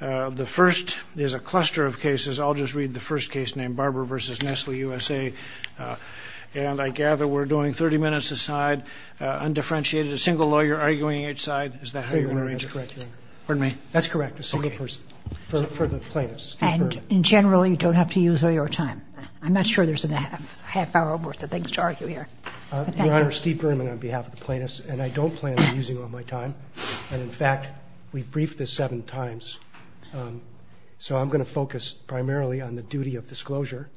The first is a cluster of cases. I'll just read the first case named Barber v. Nestle USA, and I gather we're doing 30 minutes a side, undifferentiated, a single lawyer arguing each side. Is that how you're going to arrange it? That's correct, Your Honor. That's correct, a single person for the plaintiffs. And generally you don't have to use all your time. I'm not sure there's a half hour worth of things to argue here. Your Honor, Steve Berman on behalf of the plaintiffs, and I don't plan on using all my time. And in fact, we've briefed this seven times. So I'm going to focus primarily on the duty of disclosure.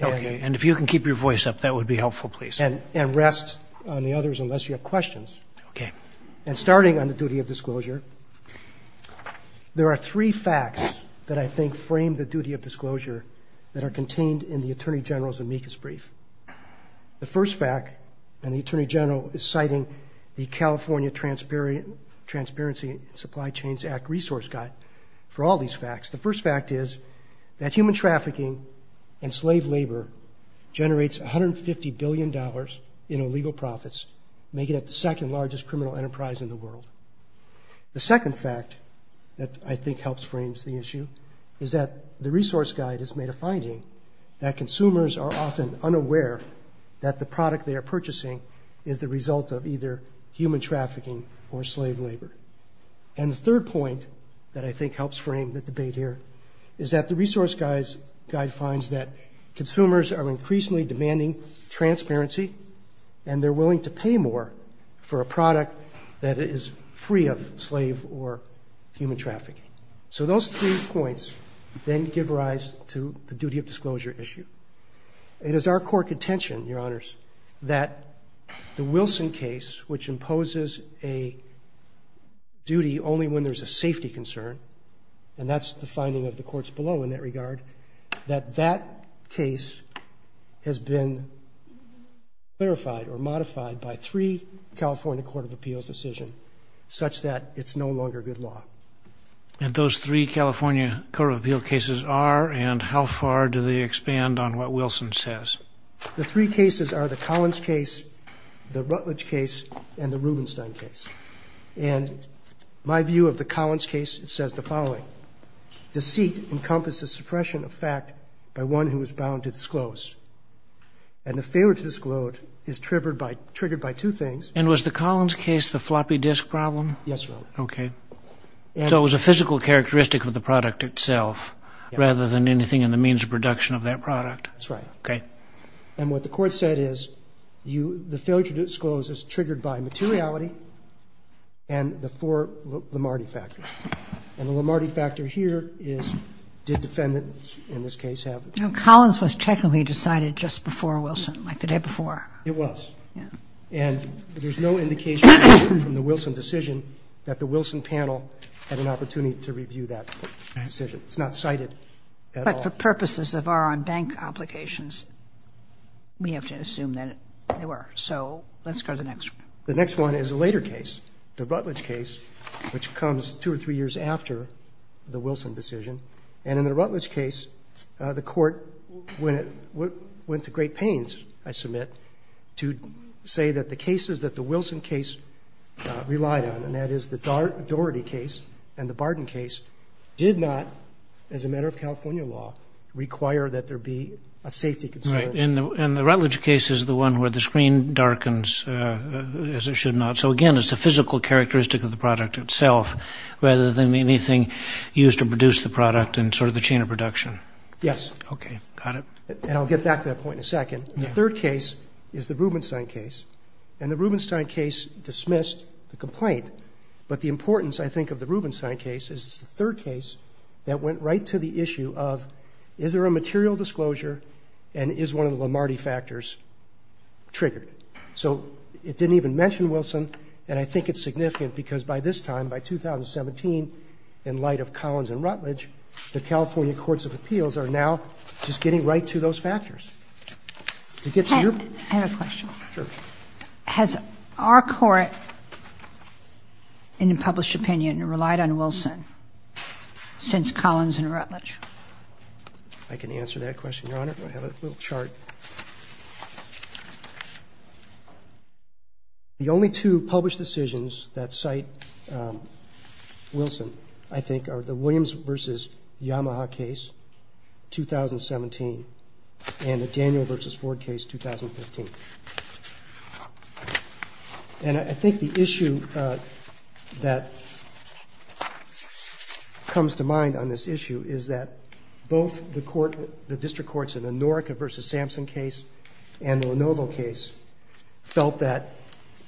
Okay. And if you can keep your voice up, that would be helpful, please. And rest on the others unless you have questions. Okay. And starting on the duty of disclosure, there are three facts that I think frame the duty of disclosure that are contained in the Attorney General's amicus brief. The first fact, and the Attorney General's California Transparency and Supply Chains Act resource guide for all these facts. The first fact is that human trafficking and slave labor generates $150 billion in illegal profits, making it the second largest criminal enterprise in the world. The second fact that I think helps frames the issue is that the resource guide has made a finding that consumers are often unaware that the product they are purchasing is the result of either human trafficking or slave labor. And the third point that I think helps frame the debate here is that the resource guide finds that consumers are increasingly demanding transparency and they're willing to pay more for a product that is free of slave or human trafficking. So those three points then give rise to the duty of disclosure issue. It is our court contention, Your Honors, that the Wilson case, which imposes a duty only when there's a safety concern, and that's the finding of the courts below in that regard, that that case has been clarified or modified by three California court of appeals decisions such that it's no longer good law. And those three California court of appeals cases are, and how far do they expand on what Wilson says? The three cases are the Collins case, the Rutledge case, and the Rubenstein case. And my view of the Collins case, it says the following. Deceit encompasses suppression of fact by one who is bound to disclose. And the failure to disclose is triggered by two things. And was the Collins case the floppy disk problem? Yes, Your Honor. Okay. So it was a physical characteristic of the product itself rather than anything in the means of production of that product? That's right. Okay. And what the court said is the failure to disclose is triggered by materiality and the four Lomardi factors. And the Lomardi factor here is did defendants in this case have it? Collins was technically decided just before Wilson, like the day before. It was. Yes. And there's no indication from the Wilson decision that the Wilson panel had an opportunity to review that decision. It's not cited at all. But for purposes of our on-bank applications, we have to assume that they were. So let's go to the next one. The next one is a later case, the Rutledge case, which comes two or three years after the Wilson decision. And in the Rutledge case, the court went to great pains, I submit, to say that the cases that the Wilson case relied on, and that is the Doherty case and the Barden case, did not, as a matter of California law, require that there be a safety concern. Right. And the Rutledge case is the one where the screen darkens, as it should not. So again, it's the physical characteristic of the product itself rather than anything used to produce the product and sort of the chain of production. Yes. Okay. Got it. And I'll get back to that point in a second. The third case is the Rubenstein case. And the Rubenstein case dismissed the complaint. But the importance, I think, of the Rubenstein case is it's the third case that went right to the issue of, is there a material disclosure and is one of the Lamarty factors triggered? So it didn't even mention Wilson. And I think it's significant because by this time, by 2017, in light of Collins and Rutledge, the California courts of appeals are now just getting right to those factors. I have a question. Sure. Has our court in a published opinion relied on Wilson since Collins and Rutledge? I can answer that question, Your Honor. I have a little chart. The only two published decisions that cite Wilson, I think, are the Williams v. Yamaha case, 2017, and the Daniel v. Ford case, 2015. And I think the issue that comes to mind on this issue is that both the court, the district courts in the Norrica v. Sampson case and the Lenovo case felt that,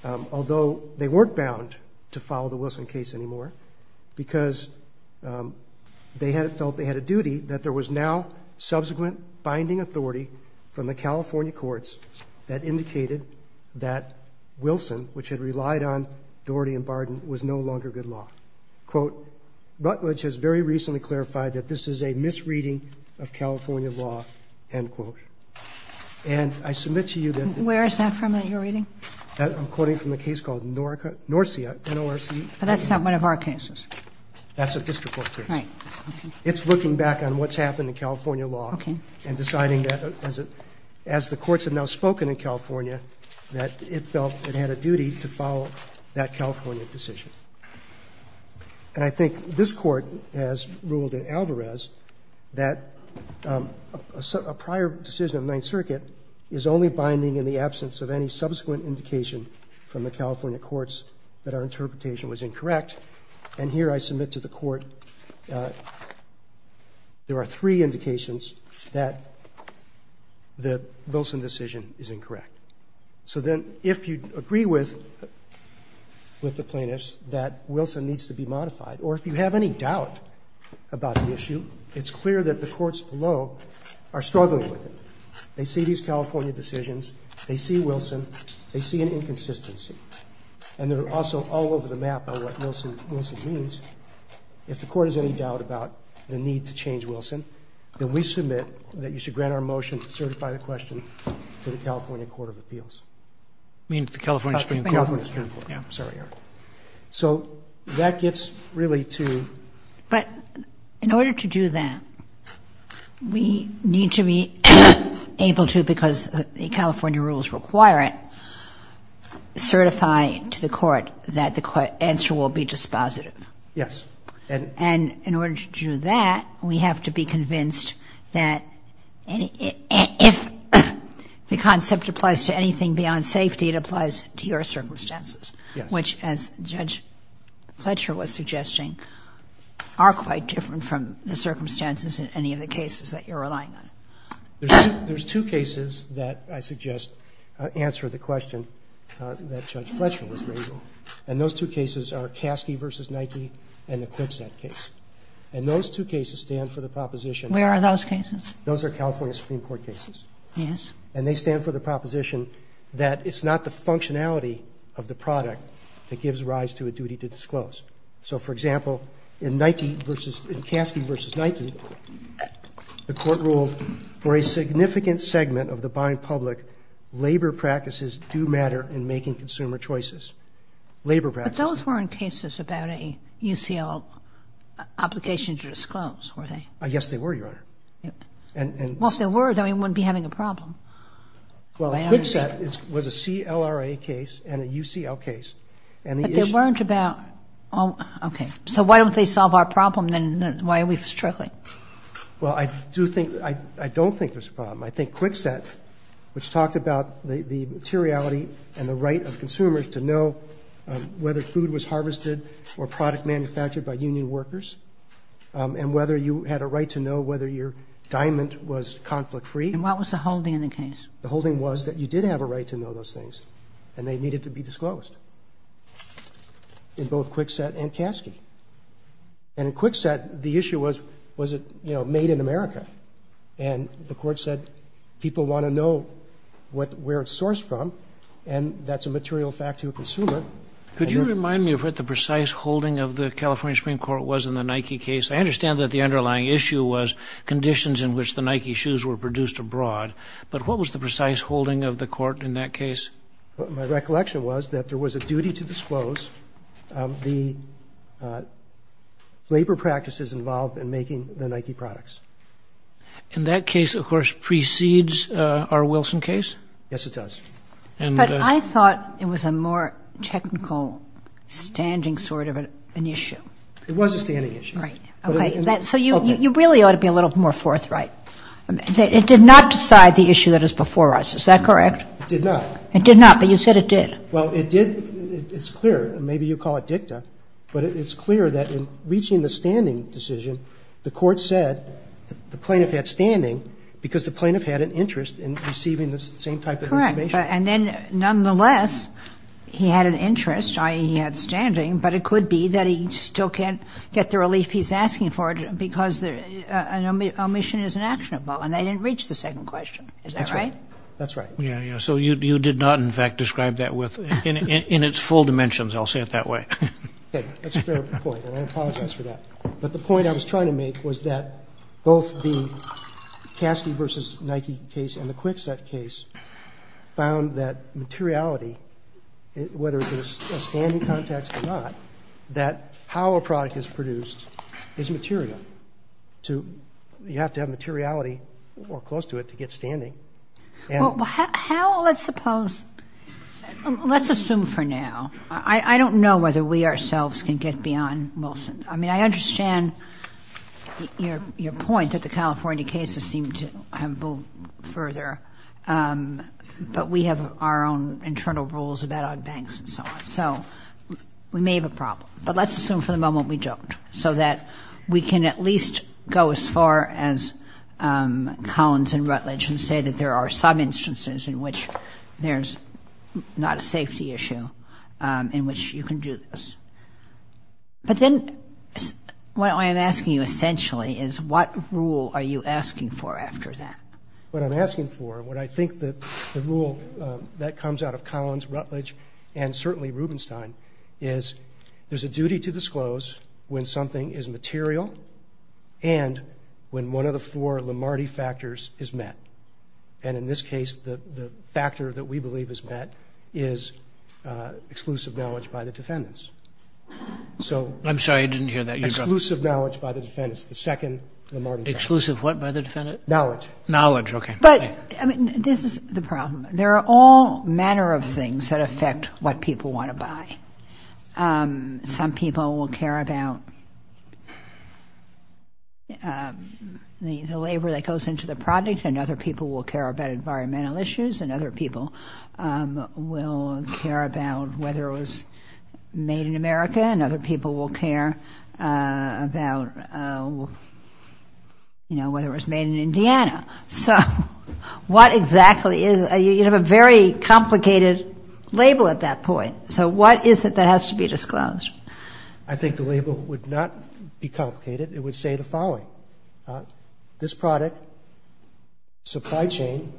although they weren't bound to follow the Wilson case anymore, because they had felt they had a duty, that there was now subsequent binding authority from the California courts that indicated that Wilson, which had relied on Doherty and Barden, was no longer good law. Quote, Rutledge has very recently clarified that this is a misreading of California law, end quote. And I submit to you that the Where is that from that you're reading? I'm quoting from a case called Norcia, N-O-R-C-I. But that's not one of our cases. That's a district court case. Right. It's looking back on what's happened in California law and deciding that, as the courts have now spoken in California, that it felt it had a duty to follow that California decision. And I think this Court has ruled in Alvarez that a prior decision of the Ninth Circuit is only binding in the absence of any subsequent indication from the California courts that our interpretation was incorrect. And here I submit to the Court there are three indications that the Wilson decision is incorrect. So then if you agree with the plaintiffs that Wilson needs to be modified, or if you have any doubt about the issue, it's clear that the courts below are struggling with it. They see these California decisions. They see Wilson. They see an inconsistency. And they're also all over the map on what Wilson means. If the Court has any doubt about the need to change Wilson, then we submit that you grant our motion to certify the question to the California Court of Appeals. You mean to the California Supreme Court? California Supreme Court. Yeah. Sorry, Your Honor. So that gets really to — But in order to do that, we need to be able to, because the California rules require it, certify to the Court that the answer will be dispositive. Yes. And in order to do that, we have to be convinced that if the concept applies to anything beyond safety, it applies to your circumstances, which, as Judge Fletcher was suggesting, are quite different from the circumstances in any of the cases that you're relying on. There's two cases that I suggest answer the question that Judge Fletcher was raising. And those two cases are Kasky v. Nike and the QuickSet case. And those two cases stand for the proposition — Where are those cases? Those are California Supreme Court cases. Yes. And they stand for the proposition that it's not the functionality of the product that gives rise to a duty to disclose. So for example, in Nike v. — in Kasky v. Nike, the Court ruled, for a significant labor practice — But those weren't cases about a UCL obligation to disclose, were they? Yes, they were, Your Honor. And — Well, if they were, then we wouldn't be having a problem. Well, QuickSet was a CLRA case and a UCL case, and the issue — But they weren't about — oh, okay. So why don't they solve our problem, then? Why are we struggling? Well, I do think — I don't think there's a problem. I think QuickSet, which talked about the materiality and the right of consumers to know whether food was harvested or product manufactured by union workers and whether you had a right to know whether your diamond was conflict-free. And what was the holding in the case? The holding was that you did have a right to know those things, and they needed to be disclosed in both QuickSet and Kasky. And in QuickSet, the issue was, was it, you know, made in America? And the Court said people want to know where it's sourced from, and that's a material fact to a consumer. Could you remind me of what the precise holding of the California Supreme Court was in the Nike case? I understand that the underlying issue was conditions in which the Nike shoes were produced abroad, but what was the precise holding of the court in that case? My recollection was that there was a duty to disclose the labor practices involved in making the Nike products. And that case, of course, precedes our Wilson case? Yes, it does. But I thought it was a more technical standing sort of an issue. It was a standing issue. Right. Okay. So you really ought to be a little more forthright. It did not decide the issue that is before us. Is that correct? It did not. It did not, but you said it did. Well, it did. It's clear. Maybe you call it dicta. But it's clear that in reaching the standing decision, the Court said the plaintiff had standing because the plaintiff had an interest in receiving the same type of information. Correct. And then, nonetheless, he had an interest, i.e., he had standing, but it could be that he still can't get the relief he's asking for because an omission is inactionable, and they didn't reach the second question. Is that right? That's right. Yeah, yeah. So you did not, in fact, describe that in its full dimensions. I'll say it that way. Okay. That's a fair point, and I apologize for that. But the point I was trying to make was that both the Caskey v. Nike case and the Kwikset case found that materiality, whether it's in a standing context or not, that how a product is produced is material. You have to have materiality or close to it to get standing. Well, how? Let's suppose. Let's assume for now. I don't know whether we ourselves can get beyond Wilson. I mean, I understand your point that the California cases seem to have moved further, but we have our own internal rules about our banks and so on. So we may have a problem, but let's assume for the moment we don't so that we can at least go as far as Collins and Rutledge and say that there are some instances in which there's not a safety issue in which you can do this. But then what I am asking you essentially is what rule are you asking for after that? What I'm asking for, what I think the rule that comes out of Collins, Rutledge, and certainly Rubenstein is there's a duty to disclose when something is material and when one of the four Lamardi factors is met. And in this case, the factor that we believe is met is exclusive knowledge by the defendants. I'm sorry, I didn't hear that. Exclusive knowledge by the defendants, the second Lamardi factor. Exclusive what by the defendants? Knowledge. Knowledge, okay. But this is the problem. There are all manner of things that affect what people want to buy. Some people will care about the labor that goes into the project. And other people will care about environmental issues. And other people will care about whether it was made in America. And other people will care about, you know, whether it was made in Indiana. So what exactly is, you have a very complicated label at that point. So what is it that has to be disclosed? I think the label would not be complicated. It would say the following. This product, supply chain,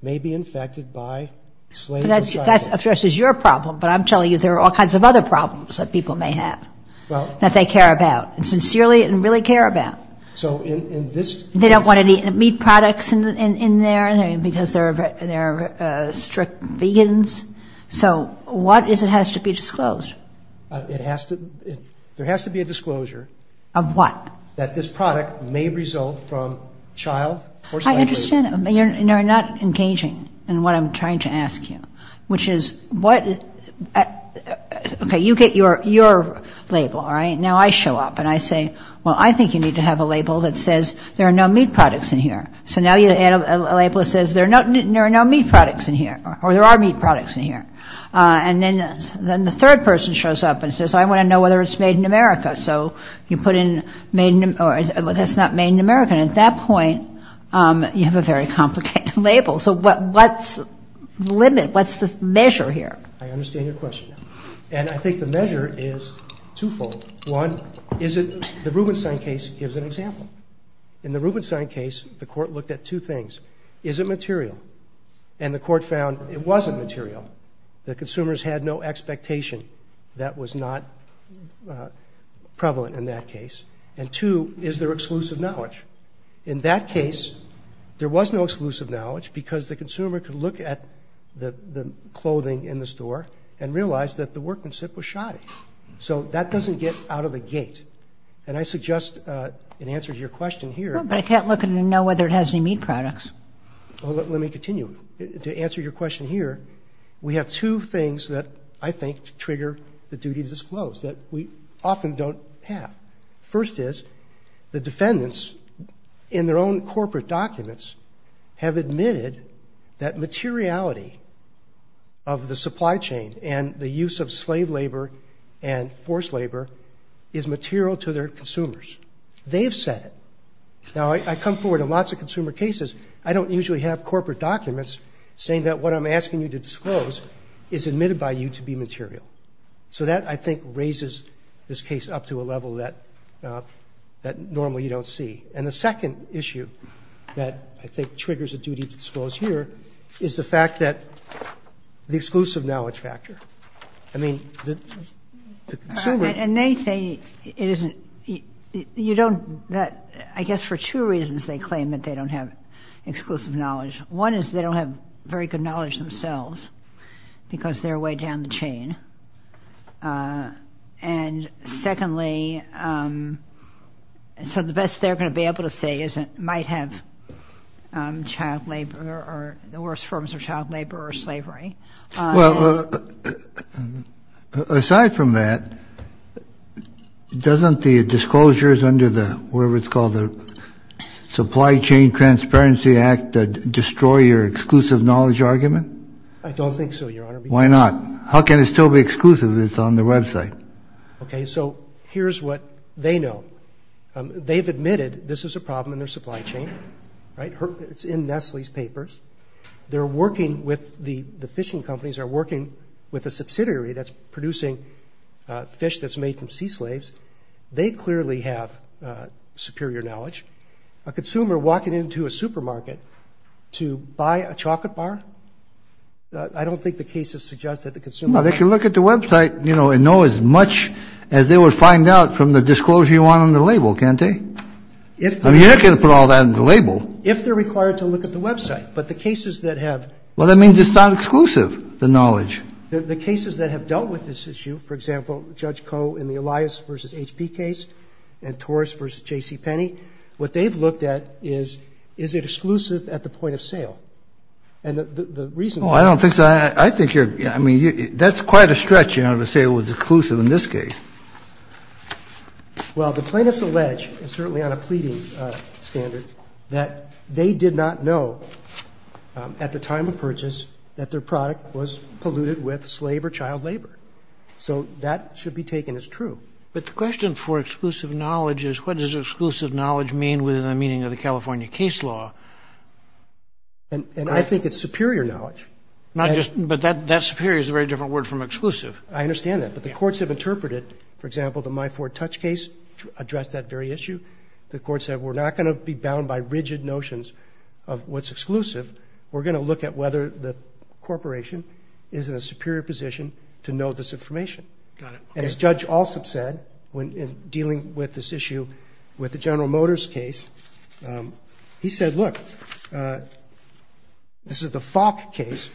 may be infected by slave material. But that's, of course, your problem. But I'm telling you there are all kinds of other problems that people may have. Well. That they care about. And sincerely and really care about. So in this case. They don't want any meat products in there because they're strict vegans. So what is it has to be disclosed? It has to, there has to be a disclosure. Of what? That this product may result from child or slave labor. I understand. You're not engaging in what I'm trying to ask you. Which is what, okay. You get your label. All right. Now I show up and I say. Well, I think you need to have a label that says there are no meat products in here. So now you add a label that says there are no meat products in here. Or there are meat products in here. And then the third person shows up and says. I want to know whether it's made in America. So you put in, well, that's not made in America. And at that point, you have a very complicated label. So what's the limit? What's the measure here? I understand your question. And I think the measure is twofold. One, is it, the Rubenstein case gives an example. In the Rubenstein case, the court looked at two things. Is it material? And the court found it wasn't material. The consumers had no expectation. That was not prevalent in that case. And two, is there exclusive knowledge? In that case, there was no exclusive knowledge because the consumer could look at the clothing in the store and realize that the workmanship was shoddy. So that doesn't get out of the gate. And I suggest in answer to your question here. But I can't look and know whether it has any meat products. Let me continue. To answer your question here, we have two things that I think trigger the duty to disclose that we often don't have. First is, the defendants in their own corporate documents have admitted that materiality of the supply chain and the use of slave labor and forced labor is material to their consumers. They have said it. Now, I come forward in lots of consumer cases. I don't usually have corporate documents saying that what I'm asking you to disclose is admitted by you to be material. So that, I think, raises this case up to a level that normally you don't see. And the second issue that I think triggers a duty to disclose here is the fact that the exclusive knowledge factor. I mean, the consumer. And they say it isn't. You don't. I guess for two reasons they claim that they don't have exclusive knowledge. One is they don't have very good knowledge themselves because they're way down the chain. And secondly, so the best they're going to be able to say is it might have child labor or the worst forms of child labor or slavery. Well, aside from that, doesn't the disclosures under the, whatever it's called, the Supply Chain Transparency Act destroy your exclusive knowledge argument? I don't think so, Your Honor. Why not? How can it still be exclusive if it's on the website? Okay. So here's what they know. They've admitted this is a problem in their supply chain. Right? It's in Nestle's papers. They're working with the fishing companies, are working with a subsidiary that's producing fish that's made from sea slaves. They clearly have superior knowledge. A consumer walking into a supermarket to buy a chocolate bar, I don't think the cases suggest that the consumer can't. Well, they can look at the website, you know, and know as much as they would find out from the disclosure you want on the label, can't they? I mean, you're not going to put all that on the label. If they're required to look at the website. But the cases that have. Well, that means it's not exclusive, the knowledge. The cases that have dealt with this issue, for example, Judge Koh in the Elias v. HP case and Torres v. J.C. Penney, what they've looked at is, is it exclusive at the point of sale? And the reason for that. Oh, I don't think so. I think you're, I mean, that's quite a stretch, you know, to say it was exclusive in this case. Well, the plaintiffs allege, and certainly on a pleading standard, that they did not know at the time of purchase that their product was polluted with slave or child labor. So that should be taken as true. But the question for exclusive knowledge is what does exclusive knowledge mean within the meaning of the California case law? And I think it's superior knowledge. Not just, but that superior is a very different word from exclusive. I understand that. But the courts have interpreted, for example, the My Ford Touch case addressed that very issue. The court said we're not going to be bound by rigid notions of what's exclusive. We're going to look at whether the corporation is in a superior position to know this information. Got it. And as Judge Alsop said, when dealing with this issue with the General Motors case, he said, look, this is the Falk case,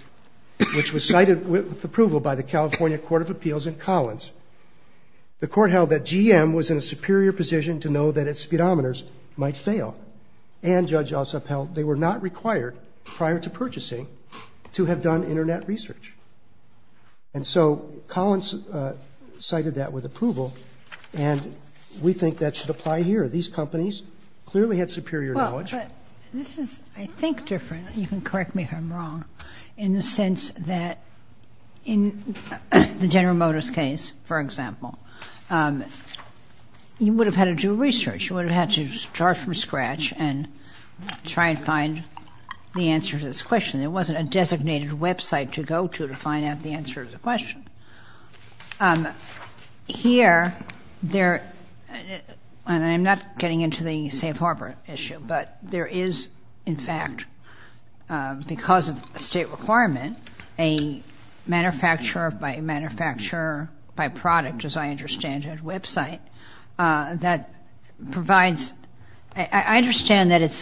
which was cited with approval by the California Court of Appeals and Collins. The court held that GM was in a superior position to know that its speedometers might fail. And Judge Alsop held they were not required prior to purchasing to have done Internet research. And so Collins cited that with approval, and we think that should apply here. These companies clearly had superior knowledge. Well, but this is, I think, different. You can correct me if I'm wrong in the sense that in the General Motors case, for example, you would have had to do research. You would have had to start from scratch and try and find the answer to this question. There wasn't a designated website to go to to find out the answer to the question. Here, and I'm not getting into the safe harbor issue, but there is, in fact, because of a state requirement, a manufacturer by manufacturer by product, as I understand it, website that provides. I understand that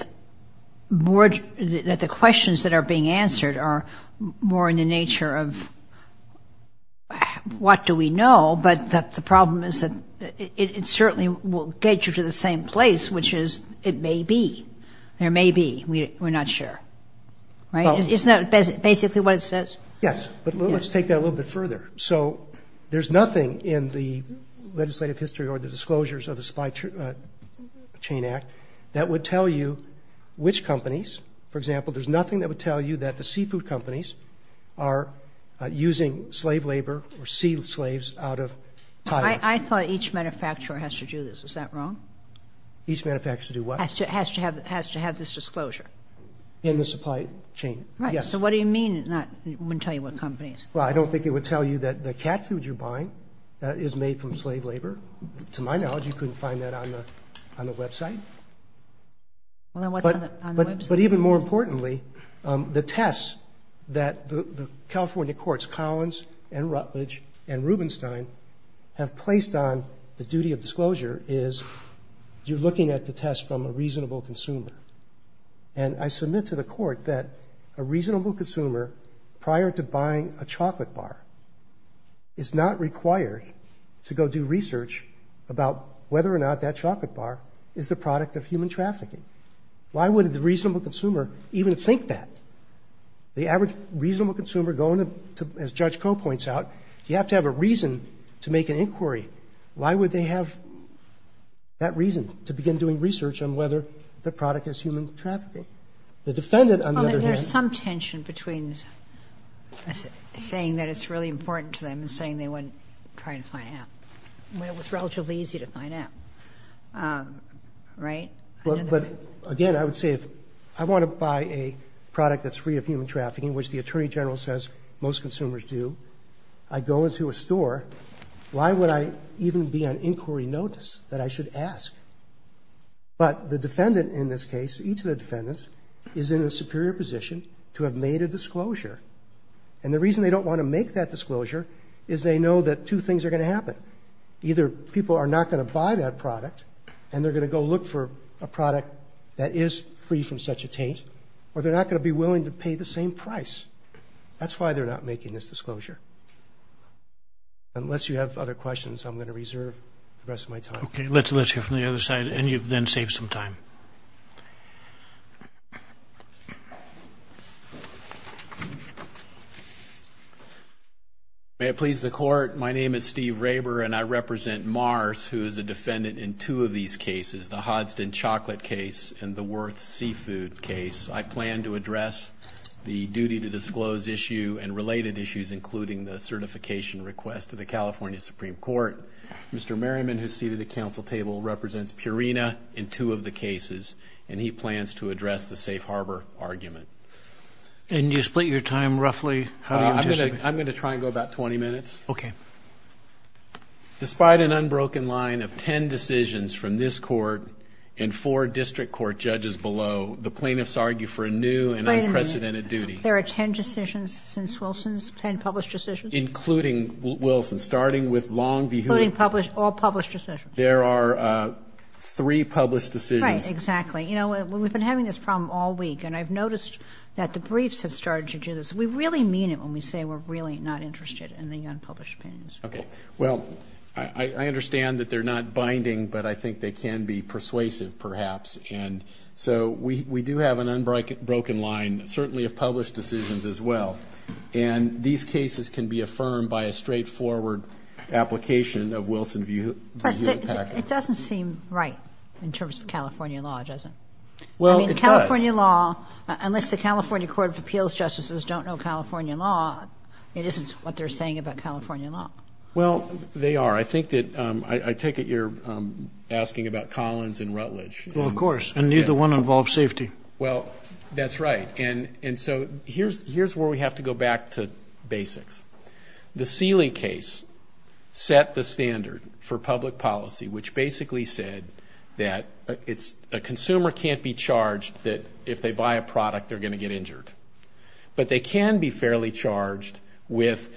the questions that are being answered are more in the nature of what do we know, but the problem is that it certainly will get you to the same place, which is it may be. There may be. We're not sure. Right? Isn't that basically what it says? Yes, but let's take that a little bit further. So there's nothing in the legislative history or the disclosures of the Supply Chain Act that would tell you which companies, for example, there's nothing that would tell you that the seafood companies are using slave labor or seal slaves out of Thailand. I thought each manufacturer has to do this. Is that wrong? Each manufacturer do what? Has to have this disclosure. In the supply chain, yes. Right. So what do you mean it wouldn't tell you what companies? Well, I don't think it would tell you that the cat food you're buying is made from slave labor. To my knowledge, you couldn't find that on the website. Well, then what's on the website? But even more importantly, the tests that the California courts, Collins and Rutledge and Rubenstein, have placed on the duty of disclosure is you're looking at the test from a reasonable consumer. And I submit to the court that a reasonable consumer, prior to buying a chocolate bar, is not required to go do research about whether or not that chocolate bar is the product of human trafficking. Why would a reasonable consumer even think that? The average reasonable consumer going to, as Judge Koh points out, you have to have a reason to make an inquiry. Why would they have that reason to begin doing research on whether the product is human trafficking? The defendant, on the other hand. Well, there's some tension between saying that it's really important to them and saying they wouldn't try to find out. It was relatively easy to find out, right? But, again, I would say if I want to buy a product that's free of human trafficking, which the Attorney General says most consumers do, I go into a store, why would I even be on inquiry notice that I should ask? But the defendant in this case, each of the defendants, is in a superior position to have made a disclosure. And the reason they don't want to make that disclosure is they know that two things are going to happen. Either people are not going to buy that product and they're going to go look for a product that is free from such a taint, or they're not going to be willing to pay the same price. That's why they're not making this disclosure. Unless you have other questions, I'm going to reserve the rest of my time. Okay, let's hear from the other side, and you've then saved some time. May it please the Court, my name is Steve Raber, and I represent Mars, who is a defendant in two of these cases, the Hodgson chocolate case and the Worth seafood case. I plan to address the duty to disclose issue and related issues, including the certification request to the California Supreme Court. Mr. Merriman, who is seated at the council table, represents Purina in two of the cases, and he plans to address the safe harbor argument. And you split your time roughly? I'm going to try and go about 20 minutes. Okay. Despite an unbroken line of ten decisions from this Court and four district court judges below, the plaintiffs argue for a new and unprecedented duty. Wait a minute. There are ten decisions since Wilson's, ten published decisions? Including Wilson's, starting with Long v. Hood. Including published, all published decisions? There are three published decisions. Right, exactly. You know, we've been having this problem all week, and I've noticed that the briefs have started to do this. We really mean it when we say we're really not interested in the unpublished opinions. Okay. Well, I understand that they're not binding, but I think they can be persuasive, perhaps. And so we do have an unbroken line, certainly of published decisions as well. And these cases can be affirmed by a straightforward application of Wilson v. Hood package. But it doesn't seem right in terms of California law, does it? Well, it does. I mean, California law, unless the California Court of Appeals justices don't know California law, it isn't what they're saying about California law. Well, they are. I think that, I take it you're asking about Collins and Rutledge. Well, of course. And neither one involves safety. Well, that's right. And so here's where we have to go back to basics. The Seeley case set the standard for public policy, which basically said that a consumer can't be charged that if they buy a product, they're going to get injured. But they can be fairly charged with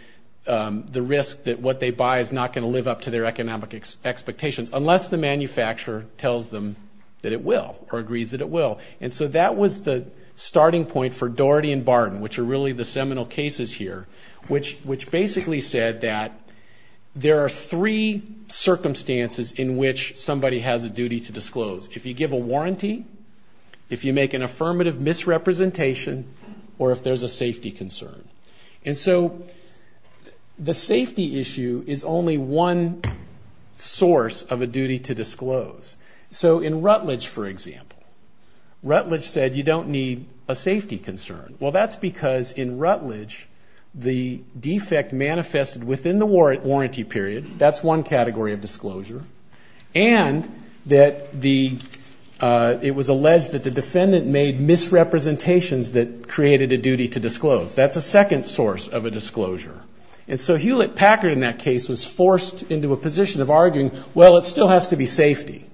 the risk that what they buy is not going to live up to their economic expectations, unless the manufacturer tells them that it will or agrees that it will. And so that was the starting point for Daugherty and Barton, which are really the seminal cases here, which basically said that there are three circumstances in which somebody has a duty to disclose. If you give a warranty, if you make an affirmative misrepresentation, or if there's a safety concern. And so the safety issue is only one source of a duty to disclose. So in Rutledge, for example, Rutledge said you don't need a safety concern. Well, that's because in Rutledge the defect manifested within the warranty period, that's one category of disclosure, and that the, it was alleged that the defendant made misrepresentations that created a duty to disclose. That's a second source of a disclosure. And so Hewlett-Packard in that case was forced into a position of arguing, well, it still has to be safety.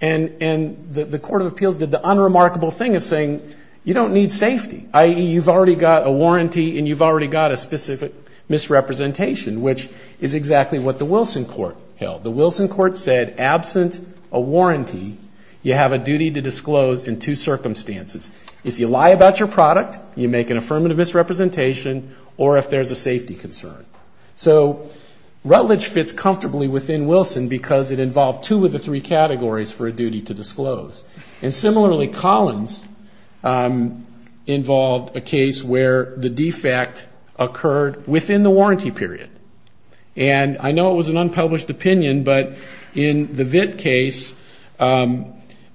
And the Court of Appeals did the unremarkable thing of saying you don't need safety, i.e., you've already got a warranty and you've already got a specific misrepresentation, which is exactly what the Wilson Court held. The Wilson Court said absent a warranty, you have a duty to disclose in two circumstances. If you lie about your product, you make an affirmative misrepresentation, or if there's a safety concern. So Rutledge fits comfortably within Wilson because it involved two of the three categories for a duty to disclose. And similarly, Collins involved a case where the defect occurred within the warranty period. And I know it was an unpublished opinion, but in the VIT case,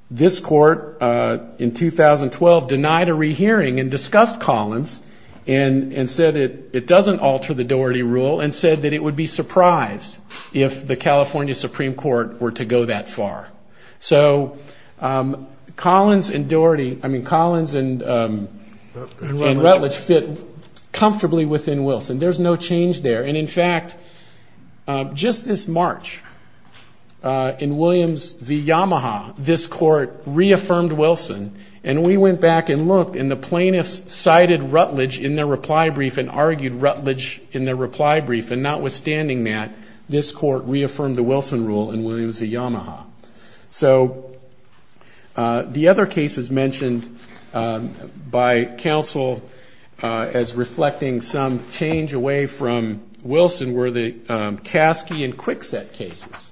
this court in 2012 denied a rehearing and discussed Collins and said it doesn't alter the Doherty Rule and said that it would be surprised if the California Supreme Court were to go that far. So Collins and Doherty, I mean, Collins and Rutledge fit comfortably within Wilson. There's no change there. And, in fact, just this March in Williams v. Yamaha, this court reaffirmed Wilson, and we went back and looked and the plaintiffs cited Rutledge in their reply brief and argued Rutledge in their reply brief, and notwithstanding that, this court reaffirmed the Wilson Rule in Williams v. Yamaha. So the other cases mentioned by counsel as reflecting some change away from Wilson were the Kasky and Kwikset cases.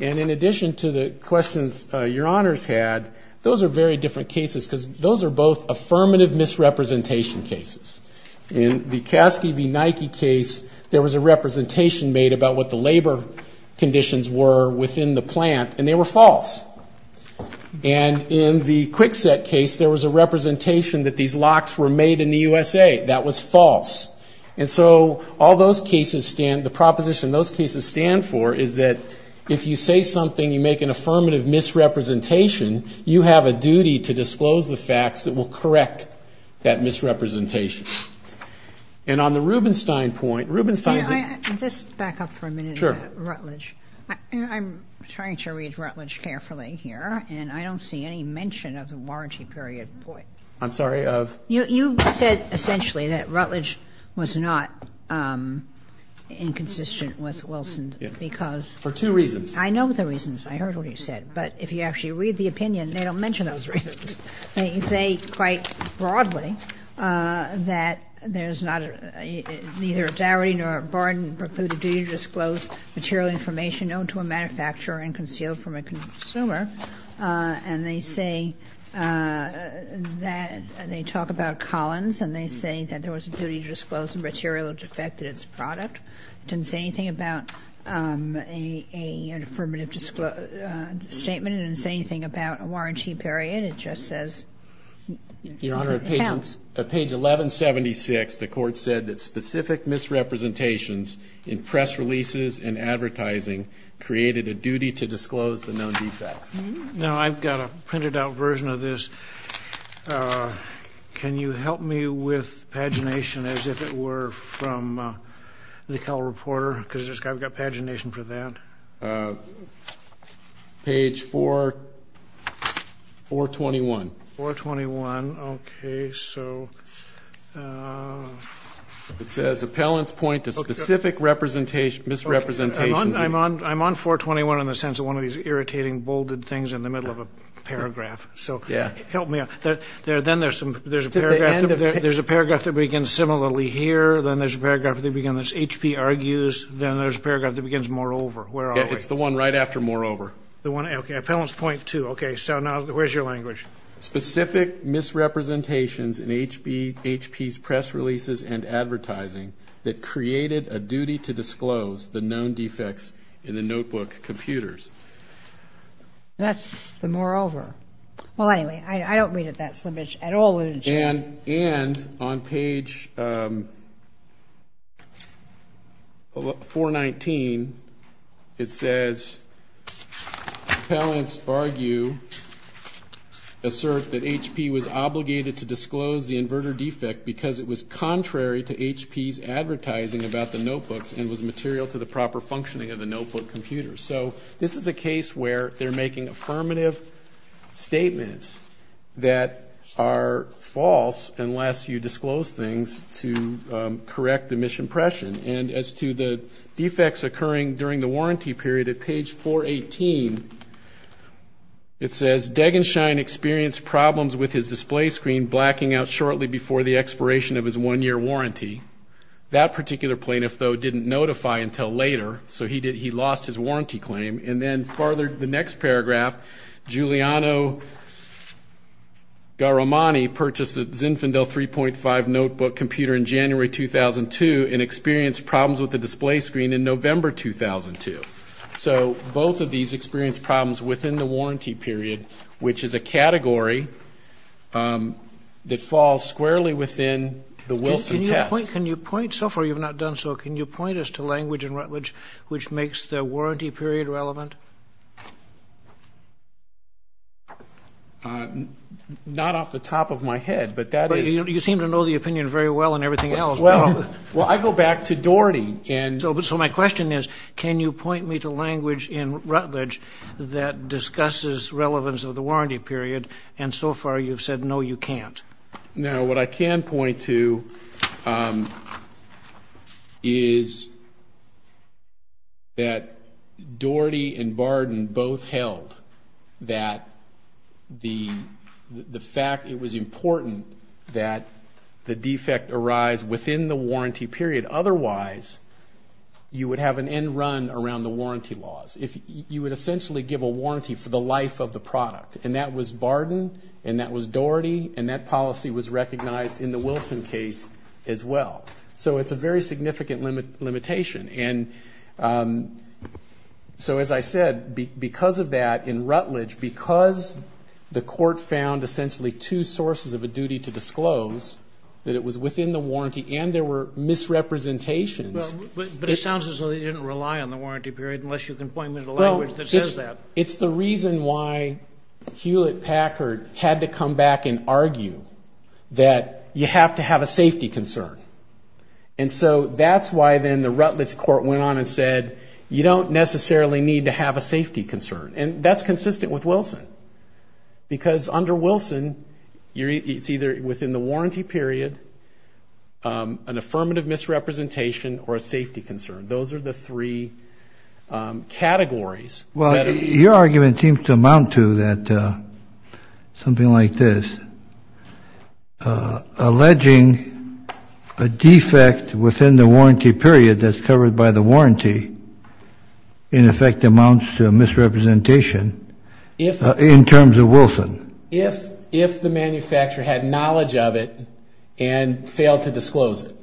And in addition to the questions your honors had, those are very different cases because those are both affirmative misrepresentation cases. In the Kasky v. Nike case, there was a representation made about what the labor conditions were within the plant, and they were false. And in the Kwikset case, there was a representation that these locks were made in the USA. That was false. And so all those cases stand, the proposition those cases stand for is that if you say something, you make an affirmative misrepresentation, you have a duty to disclose the facts that will correct that misrepresentation. And on the Rubenstein point, Rubenstein's a Just back up for a minute. Sure. Rutledge. I'm trying to read Rutledge carefully here, and I don't see any mention of the warranty period point. I'm sorry, of? You said essentially that Rutledge was not inconsistent with Wilson because For two reasons. I know the reasons. I heard what you said. But if you actually read the opinion, they don't mention those reasons. They say quite broadly that there's not either a dowry nor a bargain precluded duty to disclose material information known to a manufacturer and concealed from a consumer. And they say that they talk about Collins, and they say that there was a duty to disclose the material which affected its product. It didn't say anything about an affirmative statement. It didn't say anything about a warranty period. It just says. Your Honor, page 1176, the court said that specific misrepresentations in press releases and advertising created a duty to disclose the known defects. Now, I've got a printed out version of this. Can you help me with pagination as if it were from the Cal Reporter? Because I've got pagination for that. Page 421. 421. Okay. So. It says appellants point to specific misrepresentations. I'm on 421 in the sense of one of these irritating bolded things in the middle of a paragraph. So help me out. Then there's a paragraph that begins similarly here. Then there's a paragraph that begins HP argues. Then there's a paragraph that begins moreover. Where are we? It's the one right after moreover. Okay. Appellants point to. Okay. So now where's your language? Specific misrepresentations in HP's press releases and advertising that created a duty to disclose the known defects in the notebook computers. That's the moreover. Well, anyway, I don't read it that slippage at all. And on page 419 it says appellants argue, assert that HP was obligated to disclose the inverter defect because it was contrary to HP's advertising about the notebooks and was material to the proper functioning of the notebook computers. So this is a case where they're making affirmative statements that are false unless you disclose things to correct the misimpression. And as to the defects occurring during the warranty period at page 418, it says Degenshine experienced problems with his display screen blacking out shortly before the expiration of his one-year warranty. That particular plaintiff, though, didn't notify until later. So he lost his warranty claim. And then further, the next paragraph, Giuliano Garamani purchased the Zinfandel 3.5 notebook computer in January 2002 and experienced problems with the display screen in November 2002. So both of these experienced problems within the warranty period, which is a category that falls squarely within the Wilson test. Can you point? So far you've not done so. Can you point us to language in Rutledge which makes the warranty period relevant? Not off the top of my head, but that is. You seem to know the opinion very well and everything else. Well, I go back to Doherty. So my question is, can you point me to language in Rutledge that discusses relevance of the warranty period? And so far you've said no, you can't. Now, what I can point to is that Doherty and Barden both held that the fact it was important that the defect arise within the warranty period. Otherwise, you would have an end run around the warranty laws. You would essentially give a warranty for the life of the product, and that was Barden, and that was Doherty, and that policy was recognized in the Wilson case as well. So it's a very significant limitation. And so as I said, because of that, in Rutledge, because the court found essentially two sources of a duty to disclose, that it was within the warranty and there were misrepresentations. But it sounds as though they didn't rely on the warranty period, unless you can point me to language that says that. It's the reason why Hewlett-Packard had to come back and argue that you have to have a safety concern. And so that's why then the Rutledge court went on and said, you don't necessarily need to have a safety concern. And that's consistent with Wilson, because under Wilson, it's either within the warranty period, an affirmative misrepresentation, or a safety concern. Those are the three categories. Well, your argument seems to amount to something like this, alleging a defect within the warranty period that's covered by the warranty, in effect amounts to a misrepresentation in terms of Wilson. If the manufacturer had knowledge of it and failed to disclose it.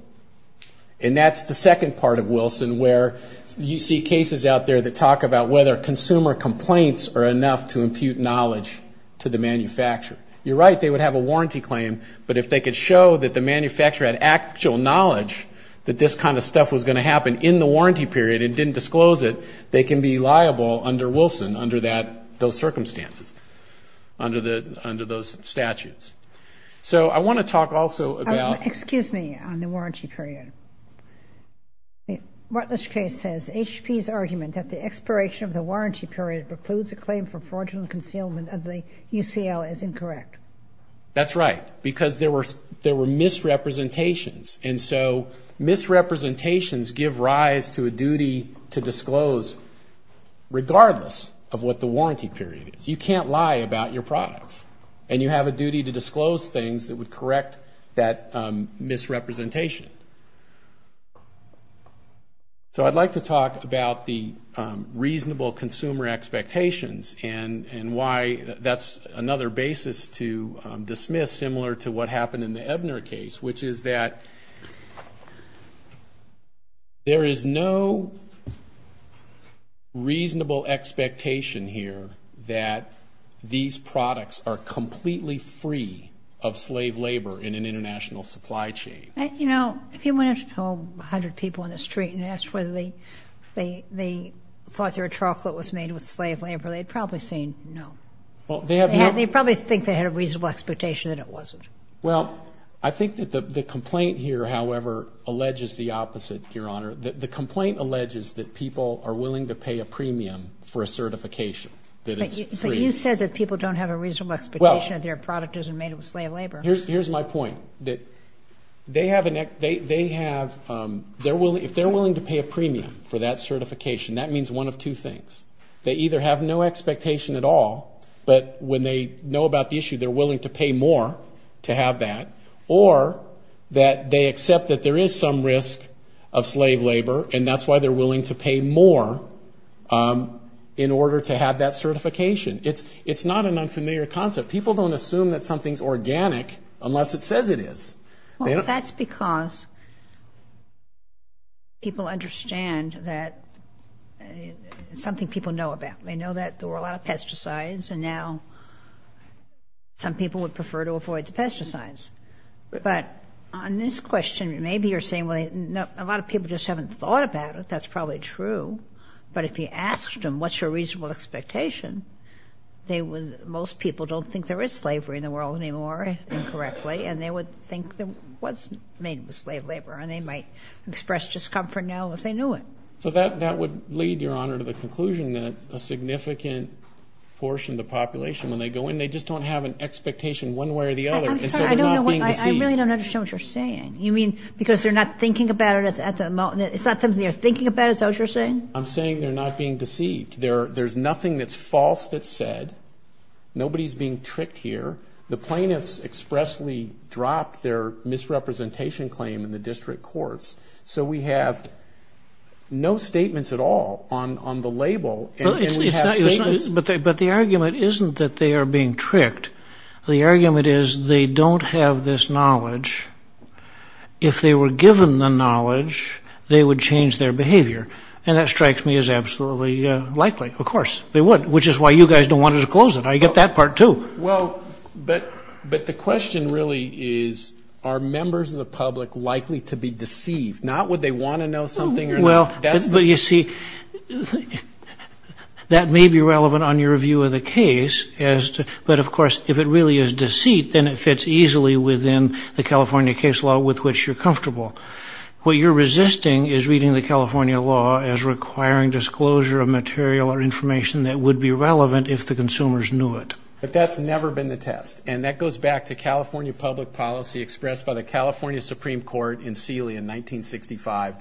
And that's the second part of Wilson, where you see cases out there that talk about whether consumer complaints are enough to impute knowledge to the manufacturer. You're right, they would have a warranty claim. But if they could show that the manufacturer had actual knowledge that this kind of stuff was going to happen in the warranty period and didn't disclose it, they can be liable under Wilson under those circumstances, under those statutes. So I want to talk also about the warranty period. Martin Lashkay says, HP's argument that the expiration of the warranty period precludes a claim for fraudulent concealment of the UCL is incorrect. That's right, because there were misrepresentations. And so misrepresentations give rise to a duty to disclose, regardless of what the warranty period is. You can't lie about your products. And you have a duty to disclose things that would correct that misrepresentation. So I'd like to talk about the reasonable consumer expectations and why that's another basis to dismiss similar to what happened in the Ebner case, which is that there is no reasonable expectation here that these products are completely free of slave labor in an international supply chain. You know, if you went home to 100 people on the street and asked whether they thought their chocolate was made with slave labor, they'd probably say no. They'd probably think they had a reasonable expectation that it wasn't. Well, I think that the complaint here, however, alleges the opposite, Your Honor. The complaint alleges that people are willing to pay a premium for a certification, that it's free. But you said that people don't have a reasonable expectation that their product isn't made with slave labor. Here's my point, that they have a next they have, if they're willing to pay a premium for that certification, that means one of two things. They either have no expectation at all, but when they know about the issue, they're willing to pay more to have that, or that they accept that there is some risk of slave labor, and that's why they're willing to pay more in order to have that certification. It's not an unfamiliar concept. People don't assume that something's organic unless it says it is. Well, that's because people understand that it's something people know about. They know that there were a lot of pesticides, and now some people would prefer to avoid the pesticides. But on this question, maybe you're saying, well, a lot of people just haven't thought about it. That's probably true. But if you asked them, what's your reasonable expectation, most people don't think there is slavery in the world anymore, incorrectly, and they would think that it wasn't made with slave labor, and they might express discomfort now if they knew it. So that would lead, Your Honor, to the conclusion that a significant portion of the population, when they go in, they just don't have an expectation one way or the other, and so they're not being deceived. I really don't understand what you're saying. You mean because they're not thinking about it at the moment? It's not something they're thinking about, is that what you're saying? I'm saying they're not being deceived. There's nothing that's false that's said. Nobody's being tricked here. The plaintiffs expressly dropped their misrepresentation claim in the district courts. So we have no statements at all on the label, and we have statements. But the argument isn't that they are being tricked. The argument is they don't have this knowledge. If they were given the knowledge, they would change their behavior, and that strikes me as absolutely likely. Of course, they would, which is why you guys don't want to disclose it. I get that part, too. Well, but the question really is, are members of the public likely to be deceived? Not would they want to know something or not. Well, but you see, that may be relevant on your view of the case, but, of course, if it really is deceit, then it fits easily within the California case law with which you're comfortable. What you're resisting is reading the California law as requiring disclosure of material or information that would be relevant if the consumers knew it. But that's never been the test. And that goes back to California public policy expressed by the California Supreme Court in Sealy in 1965,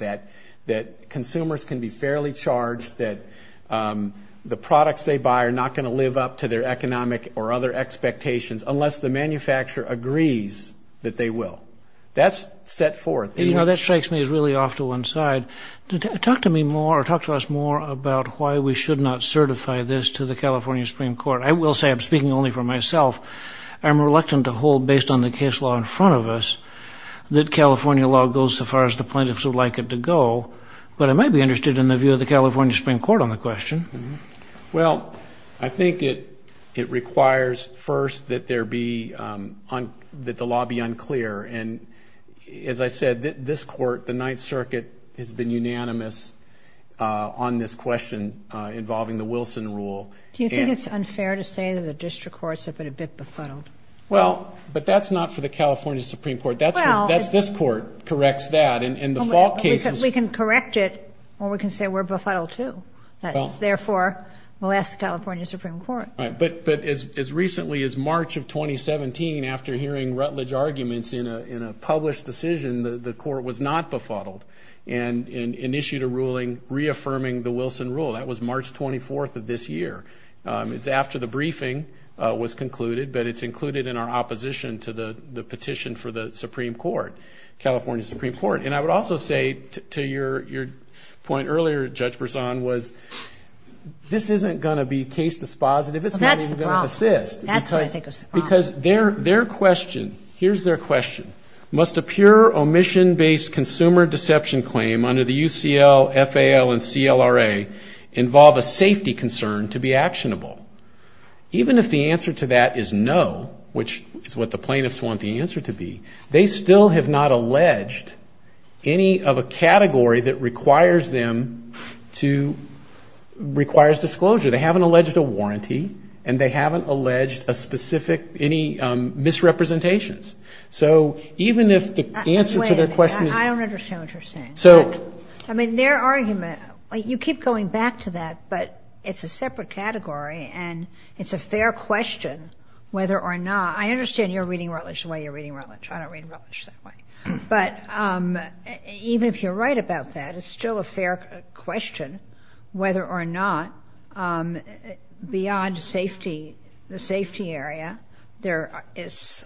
that consumers can be fairly charged that the products they buy are not going to live up to their economic or other expectations unless the manufacturer agrees that they will. That's set forth. You know, that strikes me as really off to one side. Talk to me more or talk to us more about why we should not certify this to the California Supreme Court. I will say I'm speaking only for myself. I'm reluctant to hold, based on the case law in front of us, that California law goes as far as the plaintiffs would like it to go. But I might be interested in the view of the California Supreme Court on the question. Well, I think it requires first that there be, that the law be unclear. And, as I said, this court, the Ninth Circuit, has been unanimous on this question involving the Wilson rule. Do you think it's unfair to say that the district courts have been a bit befuddled? Well, but that's not for the California Supreme Court. This court corrects that. We can correct it, or we can say we're befuddled, too. Therefore, we'll ask the California Supreme Court. Right. But as recently as March of 2017, after hearing Rutledge arguments in a published decision, the court was not befuddled and issued a ruling reaffirming the Wilson rule. That was March 24th of this year. It's after the briefing was concluded, but it's included in our opposition to the petition for the Supreme Court, California Supreme Court. And I would also say, to your point earlier, Judge Berzon, was this isn't going to be case dispositive. It's not even going to persist. Well, that's the problem. That's what I think is the problem. Because their question, here's their question, must a pure omission-based consumer deception claim under the UCL, FAL, and CLRA involve a safety concern to be actionable? Even if the answer to that is no, which is what the plaintiffs want the answer to be, they still have not alleged any of a category that requires disclosure. They haven't alleged a warranty, and they haven't alleged any misrepresentations. So even if the answer to their question is ‑‑ Wait a minute. I don't understand what you're saying. So ‑‑ I mean, their argument, you keep going back to that, but it's a separate category, and it's a fair question whether or not ‑‑ I understand you're reading Rutledge the way you're reading Rutledge. I don't read Rutledge that way. But even if you're right about that, it's still a fair question whether or not beyond safety, the safety area, there is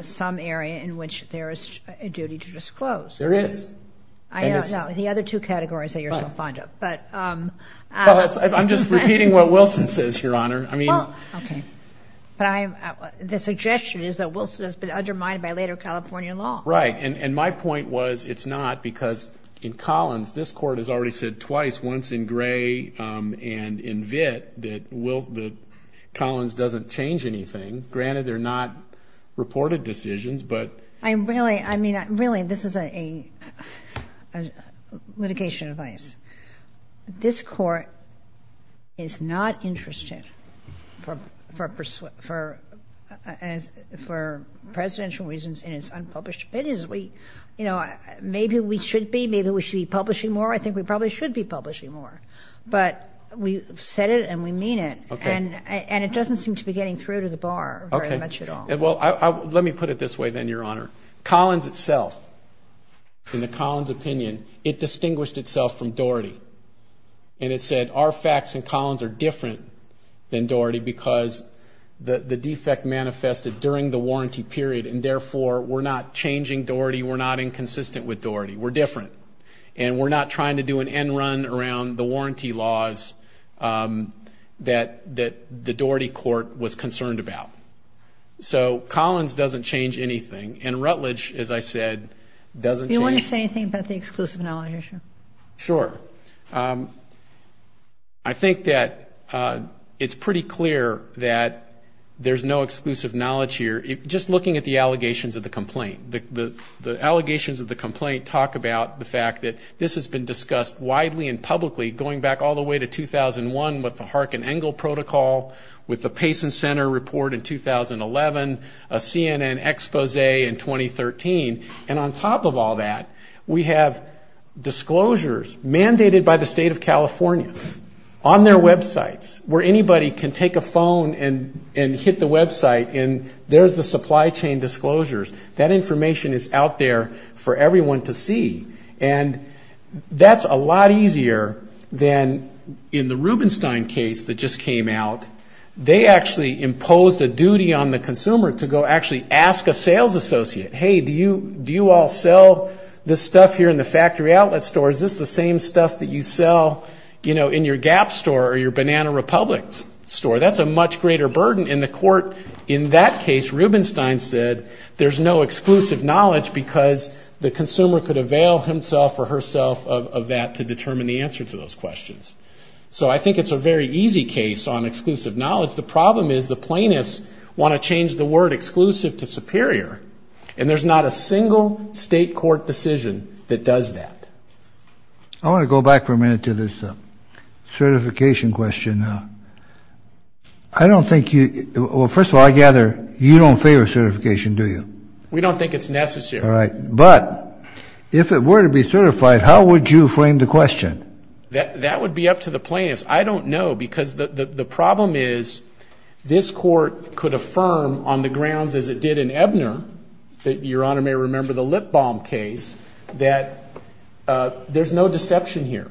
some area in which there is a duty to disclose. There is. No, the other two categories that you're so fond of. But ‑‑ I'm just repeating what Wilson says, Your Honor. I mean ‑‑ Okay. But the suggestion is that Wilson has been undermined by later California law. Right. And my point was it's not, because in Collins, this Court has already said twice, once in Gray and in Vitt, that Collins doesn't change anything. Granted, they're not reported decisions, but ‑‑ I really, I mean, really, this is a litigation advice. This Court is not interested for presidential reasons in its unpublished opinions. We, you know, maybe we should be. Maybe we should be publishing more. I think we probably should be publishing more. But we said it and we mean it. Okay. And it doesn't seem to be getting through to the bar very much at all. Okay. Well, let me put it this way then, Your Honor. Collins itself, in the Collins opinion, it distinguished itself from Doherty. And it said our facts in Collins are different than Doherty because the defect manifested during the warranty period and therefore we're not changing Doherty, we're not inconsistent with Doherty. We're different. And we're not trying to do an end run around the warranty laws that the Doherty Court was concerned about. So Collins doesn't change anything. And Rutledge, as I said, doesn't change. Do you want to say anything about the exclusive knowledge issue? Sure. I think that it's pretty clear that there's no exclusive knowledge here. Just looking at the allegations of the complaint. The allegations of the complaint talk about the fact that this has been discussed widely and publicly going back all the way to 2001 with the Harkin-Engel Protocol, with the Payson Center report in 2011, a CNN expose in 2013. And on top of all that, we have disclosures mandated by the State of California on their websites where anybody can take a phone and hit the website and there's the supply chain disclosures. That information is out there for everyone to see. And that's a lot easier than in the Rubenstein case that just came out. They actually imposed a duty on the consumer to go actually ask a sales associate, hey, do you all sell this stuff here in the factory outlet store? Is this the same stuff that you sell, you know, in your Gap store or your Banana Republic store? That's a much greater burden. In that case, Rubenstein said there's no exclusive knowledge because the consumer could avail himself or herself of that to determine the answer to those questions. So I think it's a very easy case on exclusive knowledge. The problem is the plaintiffs want to change the word exclusive to superior, and there's not a single state court decision that does that. I want to go back for a minute to this certification question. I don't think you – well, first of all, I gather you don't favor certification, do you? We don't think it's necessary. All right. But if it were to be certified, how would you frame the question? That would be up to the plaintiffs. I don't know because the problem is this court could affirm on the grounds as it did in Ebner, that Your Honor may remember the lip balm case, that there's no deception here.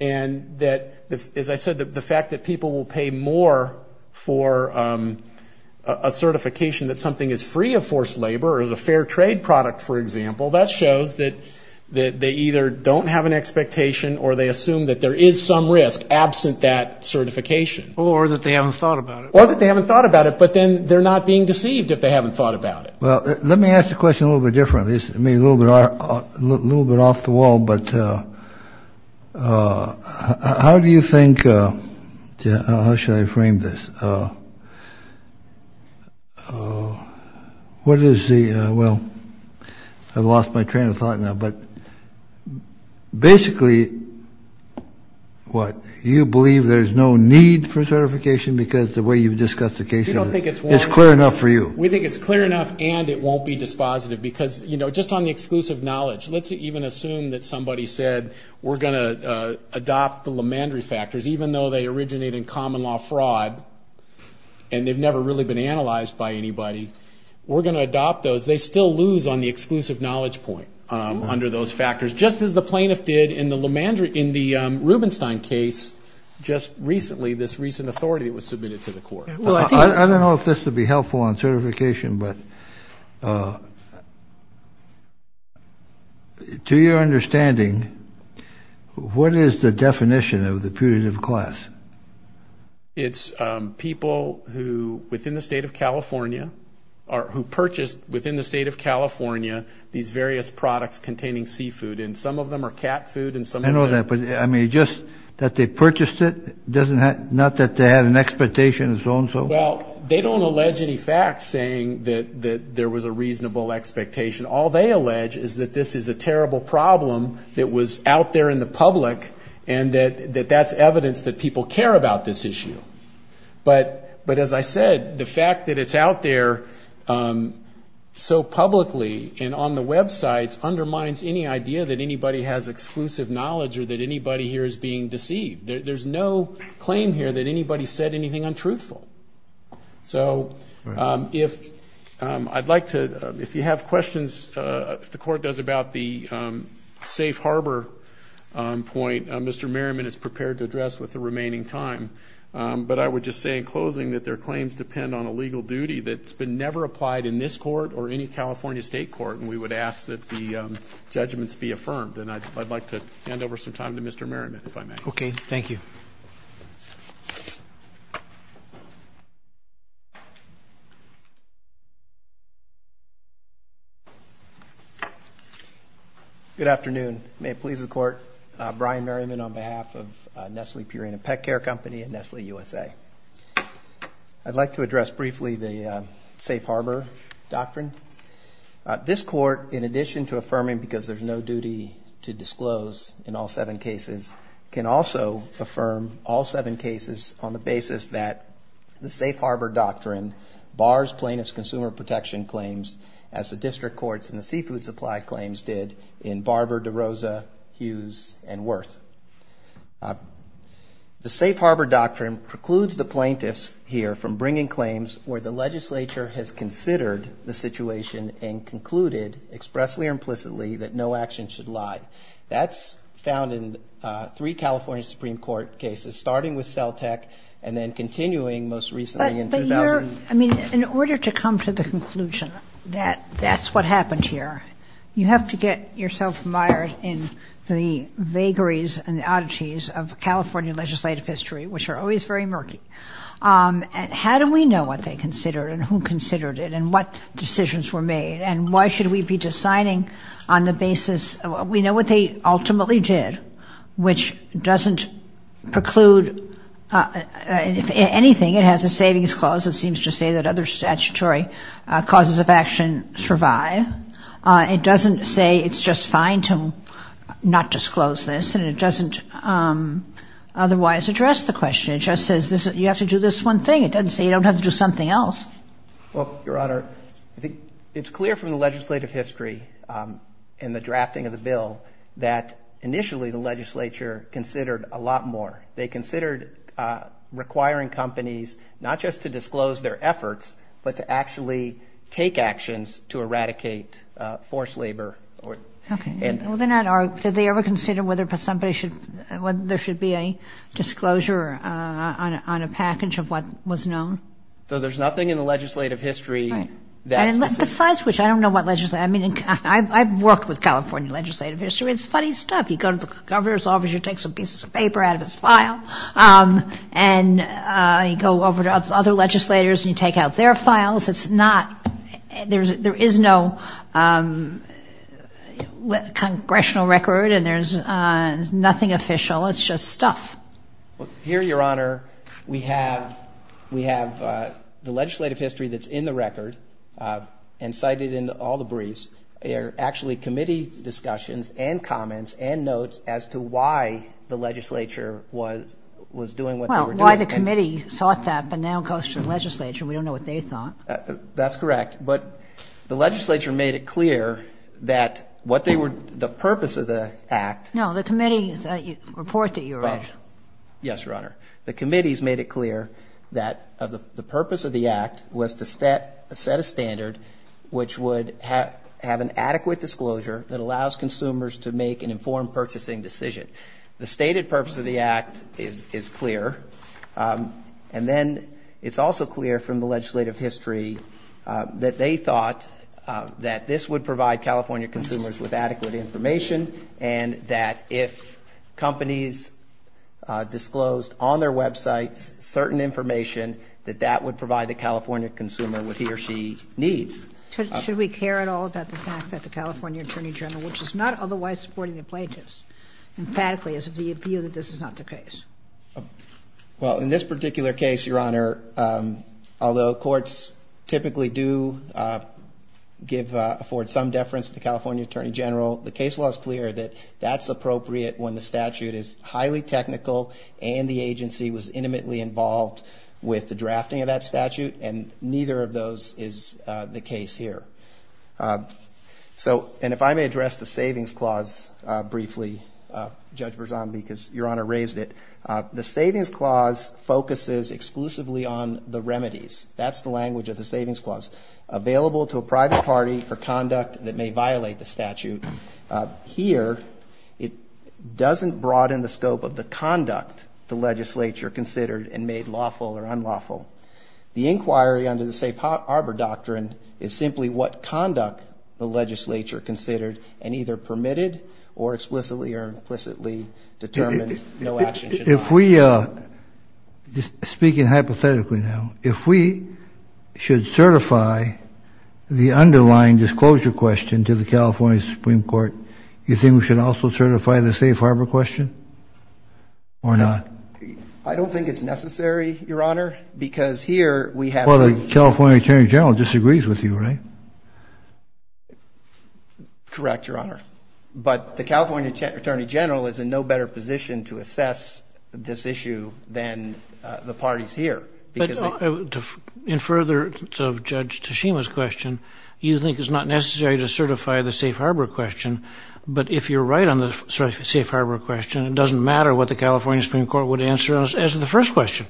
And that, as I said, the fact that people will pay more for a certification that something is free of forced labor or is a fair trade product, for example, that shows that they either don't have an expectation or they assume that there is some risk absent that certification. Or that they haven't thought about it. Or that they haven't thought about it, but then they're not being deceived if they haven't thought about it. Well, let me ask the question a little bit differently. This may be a little bit off the wall, but how do you think – how should I frame this? What is the – well, I've lost my train of thought now, but basically what? You believe there's no need for certification because the way you've discussed the case is clear enough for you? We think it's clear enough and it won't be dispositive because, you know, just on the exclusive knowledge, let's even assume that somebody said we're going to adopt the Lemandry factors, even though they originate in common law fraud and they've never really been analyzed by anybody. We're going to adopt those. They still lose on the exclusive knowledge point under those factors, just as the plaintiff did in the Rubenstein case just recently, this recent authority that was submitted to the court. I don't know if this would be helpful on certification, but to your understanding, what is the definition of the putative class? It's people who, within the state of California, or who purchased within the state of California these various products containing seafood, and some of them are cat food and some – I mean, just that they purchased it, not that they had an expectation of so-and-so? Well, they don't allege any facts saying that there was a reasonable expectation. All they allege is that this is a terrible problem that was out there in the public and that that's evidence that people care about this issue. But as I said, the fact that it's out there so publicly and on the Web sites undermines any idea that anybody has exclusive knowledge or that anybody here is being deceived. There's no claim here that anybody said anything untruthful. So if I'd like to – if you have questions, if the court does, about the safe harbor point, Mr. Merriman is prepared to address with the remaining time. But I would just say in closing that their claims depend on a legal duty that's been never applied in this court or any California state court, and we would ask that the judgments be affirmed. And I'd like to hand over some time to Mr. Merriman, if I may. Okay. Thank you. Good afternoon. May it please the Court. Brian Merriman on behalf of Nestle Purina Pet Care Company and Nestle USA. I'd like to address briefly the safe harbor doctrine. This court, in addition to affirming because there's no duty to disclose in all seven cases, can also affirm all seven cases on the basis that the safe harbor doctrine bars plaintiffs' consumer protection claims as the district courts and the seafood supply claims did in Barber, DeRosa, Hughes, and Wirth. The safe harbor doctrine precludes the plaintiffs here from bringing claims where the legislature has considered the situation and concluded expressly or implicitly that no action should lie. That's found in three California Supreme Court cases, starting with Celtec and then continuing most recently in 2000. But you're, I mean, in order to come to the conclusion that that's what happened here, you have to get yourself mired in the vagaries and oddities of California legislative history, which are always very murky. How do we know what they considered and who considered it and what decisions were made? And why should we be deciding on the basis, we know what they ultimately did, which doesn't preclude anything. It has a savings clause that seems to say that other statutory causes of action survive. It doesn't say it's just fine to not disclose this, and it doesn't otherwise address the question. It just says you have to do this one thing. It doesn't say you don't have to do something else. Well, Your Honor, I think it's clear from the legislative history and the drafting of the bill that initially the legislature considered a lot more. They considered requiring companies not just to disclose their efforts but to actually take actions to eradicate forced labor. Okay. Well, did they ever consider whether somebody should, whether there should be a disclosure on a package of what was known? So there's nothing in the legislative history that's specific. Besides which, I don't know what legislative, I mean, I've worked with California legislative history. It's funny stuff. You go to the governor's office, you take some pieces of paper out of his file, and you go over to other legislators and you take out their files. It's not, there is no congressional record, and there's nothing official. It's just stuff. Well, here, Your Honor, we have the legislative history that's in the record and cited in all the briefs. There are actually committee discussions and comments and notes as to why the legislature was doing what they were doing. Well, why the committee sought that but now goes to the legislature. We don't know what they thought. That's correct. But the legislature made it clear that what they were, the purpose of the act. No, the committee report that you read. Yes, Your Honor. The committees made it clear that the purpose of the act was to set a standard which would have an adequate disclosure that allows consumers to make an informed purchasing decision. The stated purpose of the act is clear. And then it's also clear from the legislative history that they thought that this would provide California consumers with adequate information and that if companies disclosed on their websites certain information, that that would provide the California consumer with he or she needs. Should we care at all about the fact that the California Attorney General, which is not otherwise supporting the plaintiffs, emphatically, is of the view that this is not the case? Well, in this particular case, Your Honor, although courts typically do give, afford some deference to the California Attorney General, the case law is clear that that's appropriate when the statute is highly technical and the agency was intimately involved with the drafting of that statute. And neither of those is the case here. So, and if I may address the Savings Clause briefly, Judge Verzombi, because Your Honor raised it. The Savings Clause focuses exclusively on the remedies. That's the language of the Savings Clause. Available to a private party for conduct that may violate the statute. Here, it doesn't broaden the scope of the conduct the legislature considered and made lawful or unlawful. The inquiry under the Safe Harbor Doctrine is simply what conduct the legislature considered and either permitted or explicitly or implicitly determined no action should be taken. If we, speaking hypothetically now, if we should certify the underlying disclosure question to the California Supreme Court, you think we should also certify the Safe Harbor question or not? I don't think it's necessary, Your Honor, because here we have a Well, the California Attorney General disagrees with you, right? Correct, Your Honor. But the California Attorney General is in no better position to assess this issue than the parties here. But in furtherance of Judge Tashima's question, you think it's not necessary to certify the Safe Harbor question, but if you're right on the Safe Harbor question, it doesn't matter what the California Supreme Court would answer as to the first question.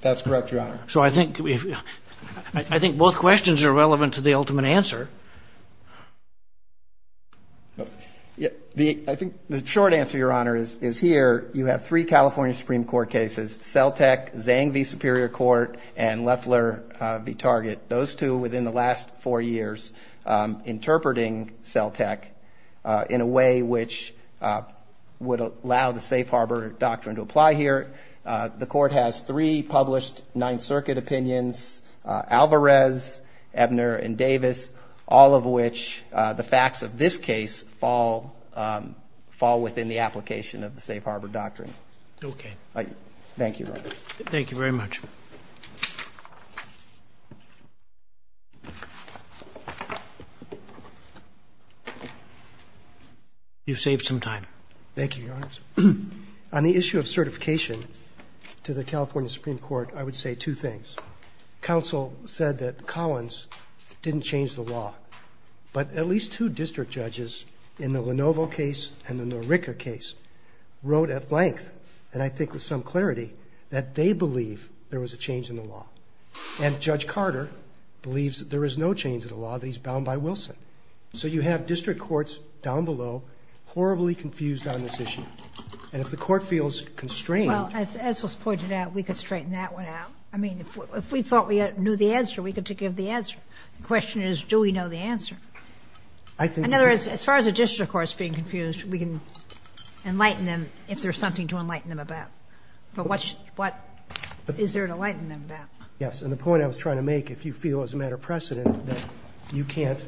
That's correct, Your Honor. So I think both questions are relevant to the ultimate answer. I think the short answer, Your Honor, is here you have three California Supreme Court cases, CELTEC, Zhang v. Superior Court, and Loeffler v. Target. Those two within the last four years interpreting CELTEC in a way which would allow the Safe Harbor Doctrine to apply here. The court has three published Ninth Circuit opinions, Alvarez, Ebner, and Davis. All of which, the facts of this case, fall within the application of the Safe Harbor Doctrine. Okay. Thank you, Your Honor. Thank you very much. You've saved some time. Thank you, Your Honor. On the issue of certification to the California Supreme Court, I would say two things. Counsel said that Collins didn't change the law. But at least two district judges in the Lenovo case and the Norica case wrote at length, and I think with some clarity, that they believe there was a change in the law. And Judge Carter believes that there is no change in the law, that he's bound by Wilson. So you have district courts down below horribly confused on this issue. And if the court feels constrained— If we thought we knew the answer, we could give the answer. The question is, do we know the answer? In other words, as far as a district court is being confused, we can enlighten them if there's something to enlighten them about. But what is there to enlighten them about? Yes, and the point I was trying to make, if you feel as a matter of precedent that you can't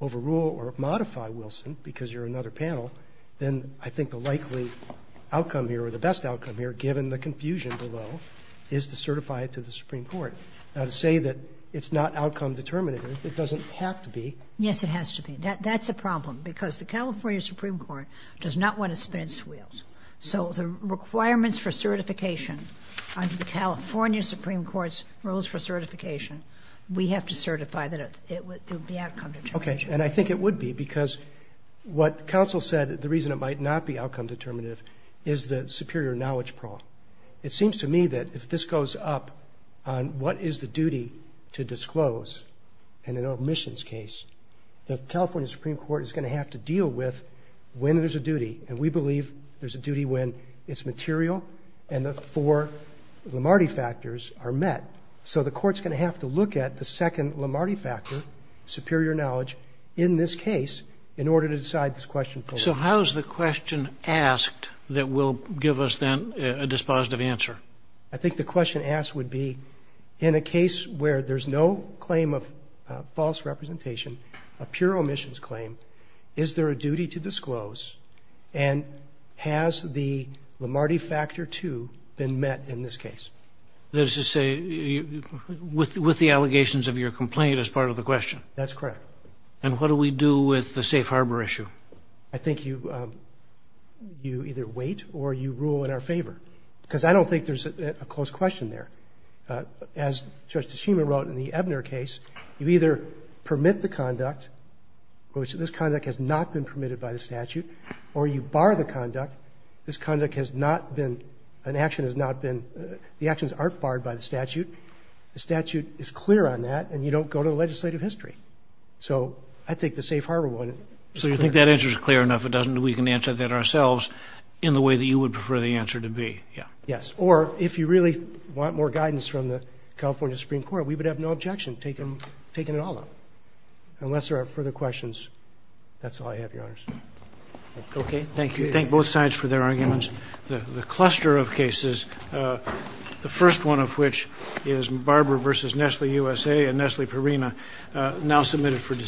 overrule or modify Wilson because you're another panel, then I think the likely outcome here, or the best outcome here, given the confusion below, is to certify it to the Supreme Court. Now, to say that it's not outcome determinative, it doesn't have to be. Yes, it has to be. That's a problem because the California Supreme Court does not want to spin its wheels. So the requirements for certification under the California Supreme Court's rules for certification, we have to certify that it would be outcome determinative. Okay, and I think it would be because what counsel said, the reason it might not be outcome determinative is the superior knowledge problem. It seems to me that if this goes up on what is the duty to disclose in an omissions case, the California Supreme Court is going to have to deal with when there's a duty, and we believe there's a duty when it's material and the four Lomardi factors are met. So the court's going to have to look at the second Lomardi factor, superior knowledge, in this case in order to decide this question. So how is the question asked that will give us, then, a dispositive answer? I think the question asked would be in a case where there's no claim of false representation, a pure omissions claim, is there a duty to disclose, and has the Lomardi factor, too, been met in this case? That is to say, with the allegations of your complaint as part of the question. That's correct. And what do we do with the safe harbor issue? I think you either wait or you rule in our favor, because I don't think there's a close question there. As Judge Teshima wrote in the Ebner case, you either permit the conduct, which this conduct has not been permitted by the statute, or you bar the conduct. This conduct has not been an action has not been the actions aren't barred by the statute. The statute is clear on that, and you don't go to the legislative history. So I think the safe harbor one is clear. So you think that answer is clear enough. If it doesn't, we can answer that ourselves in the way that you would prefer the answer to be. Yes. Or if you really want more guidance from the California Supreme Court, we would have no objection taking it all up, unless there are further questions. That's all I have, Your Honors. Okay. Thank you. Thank both sides for their arguments. The cluster of cases, the first one of which is Barber v. Nestle USA and Nestle Perina, now submitted for discussion.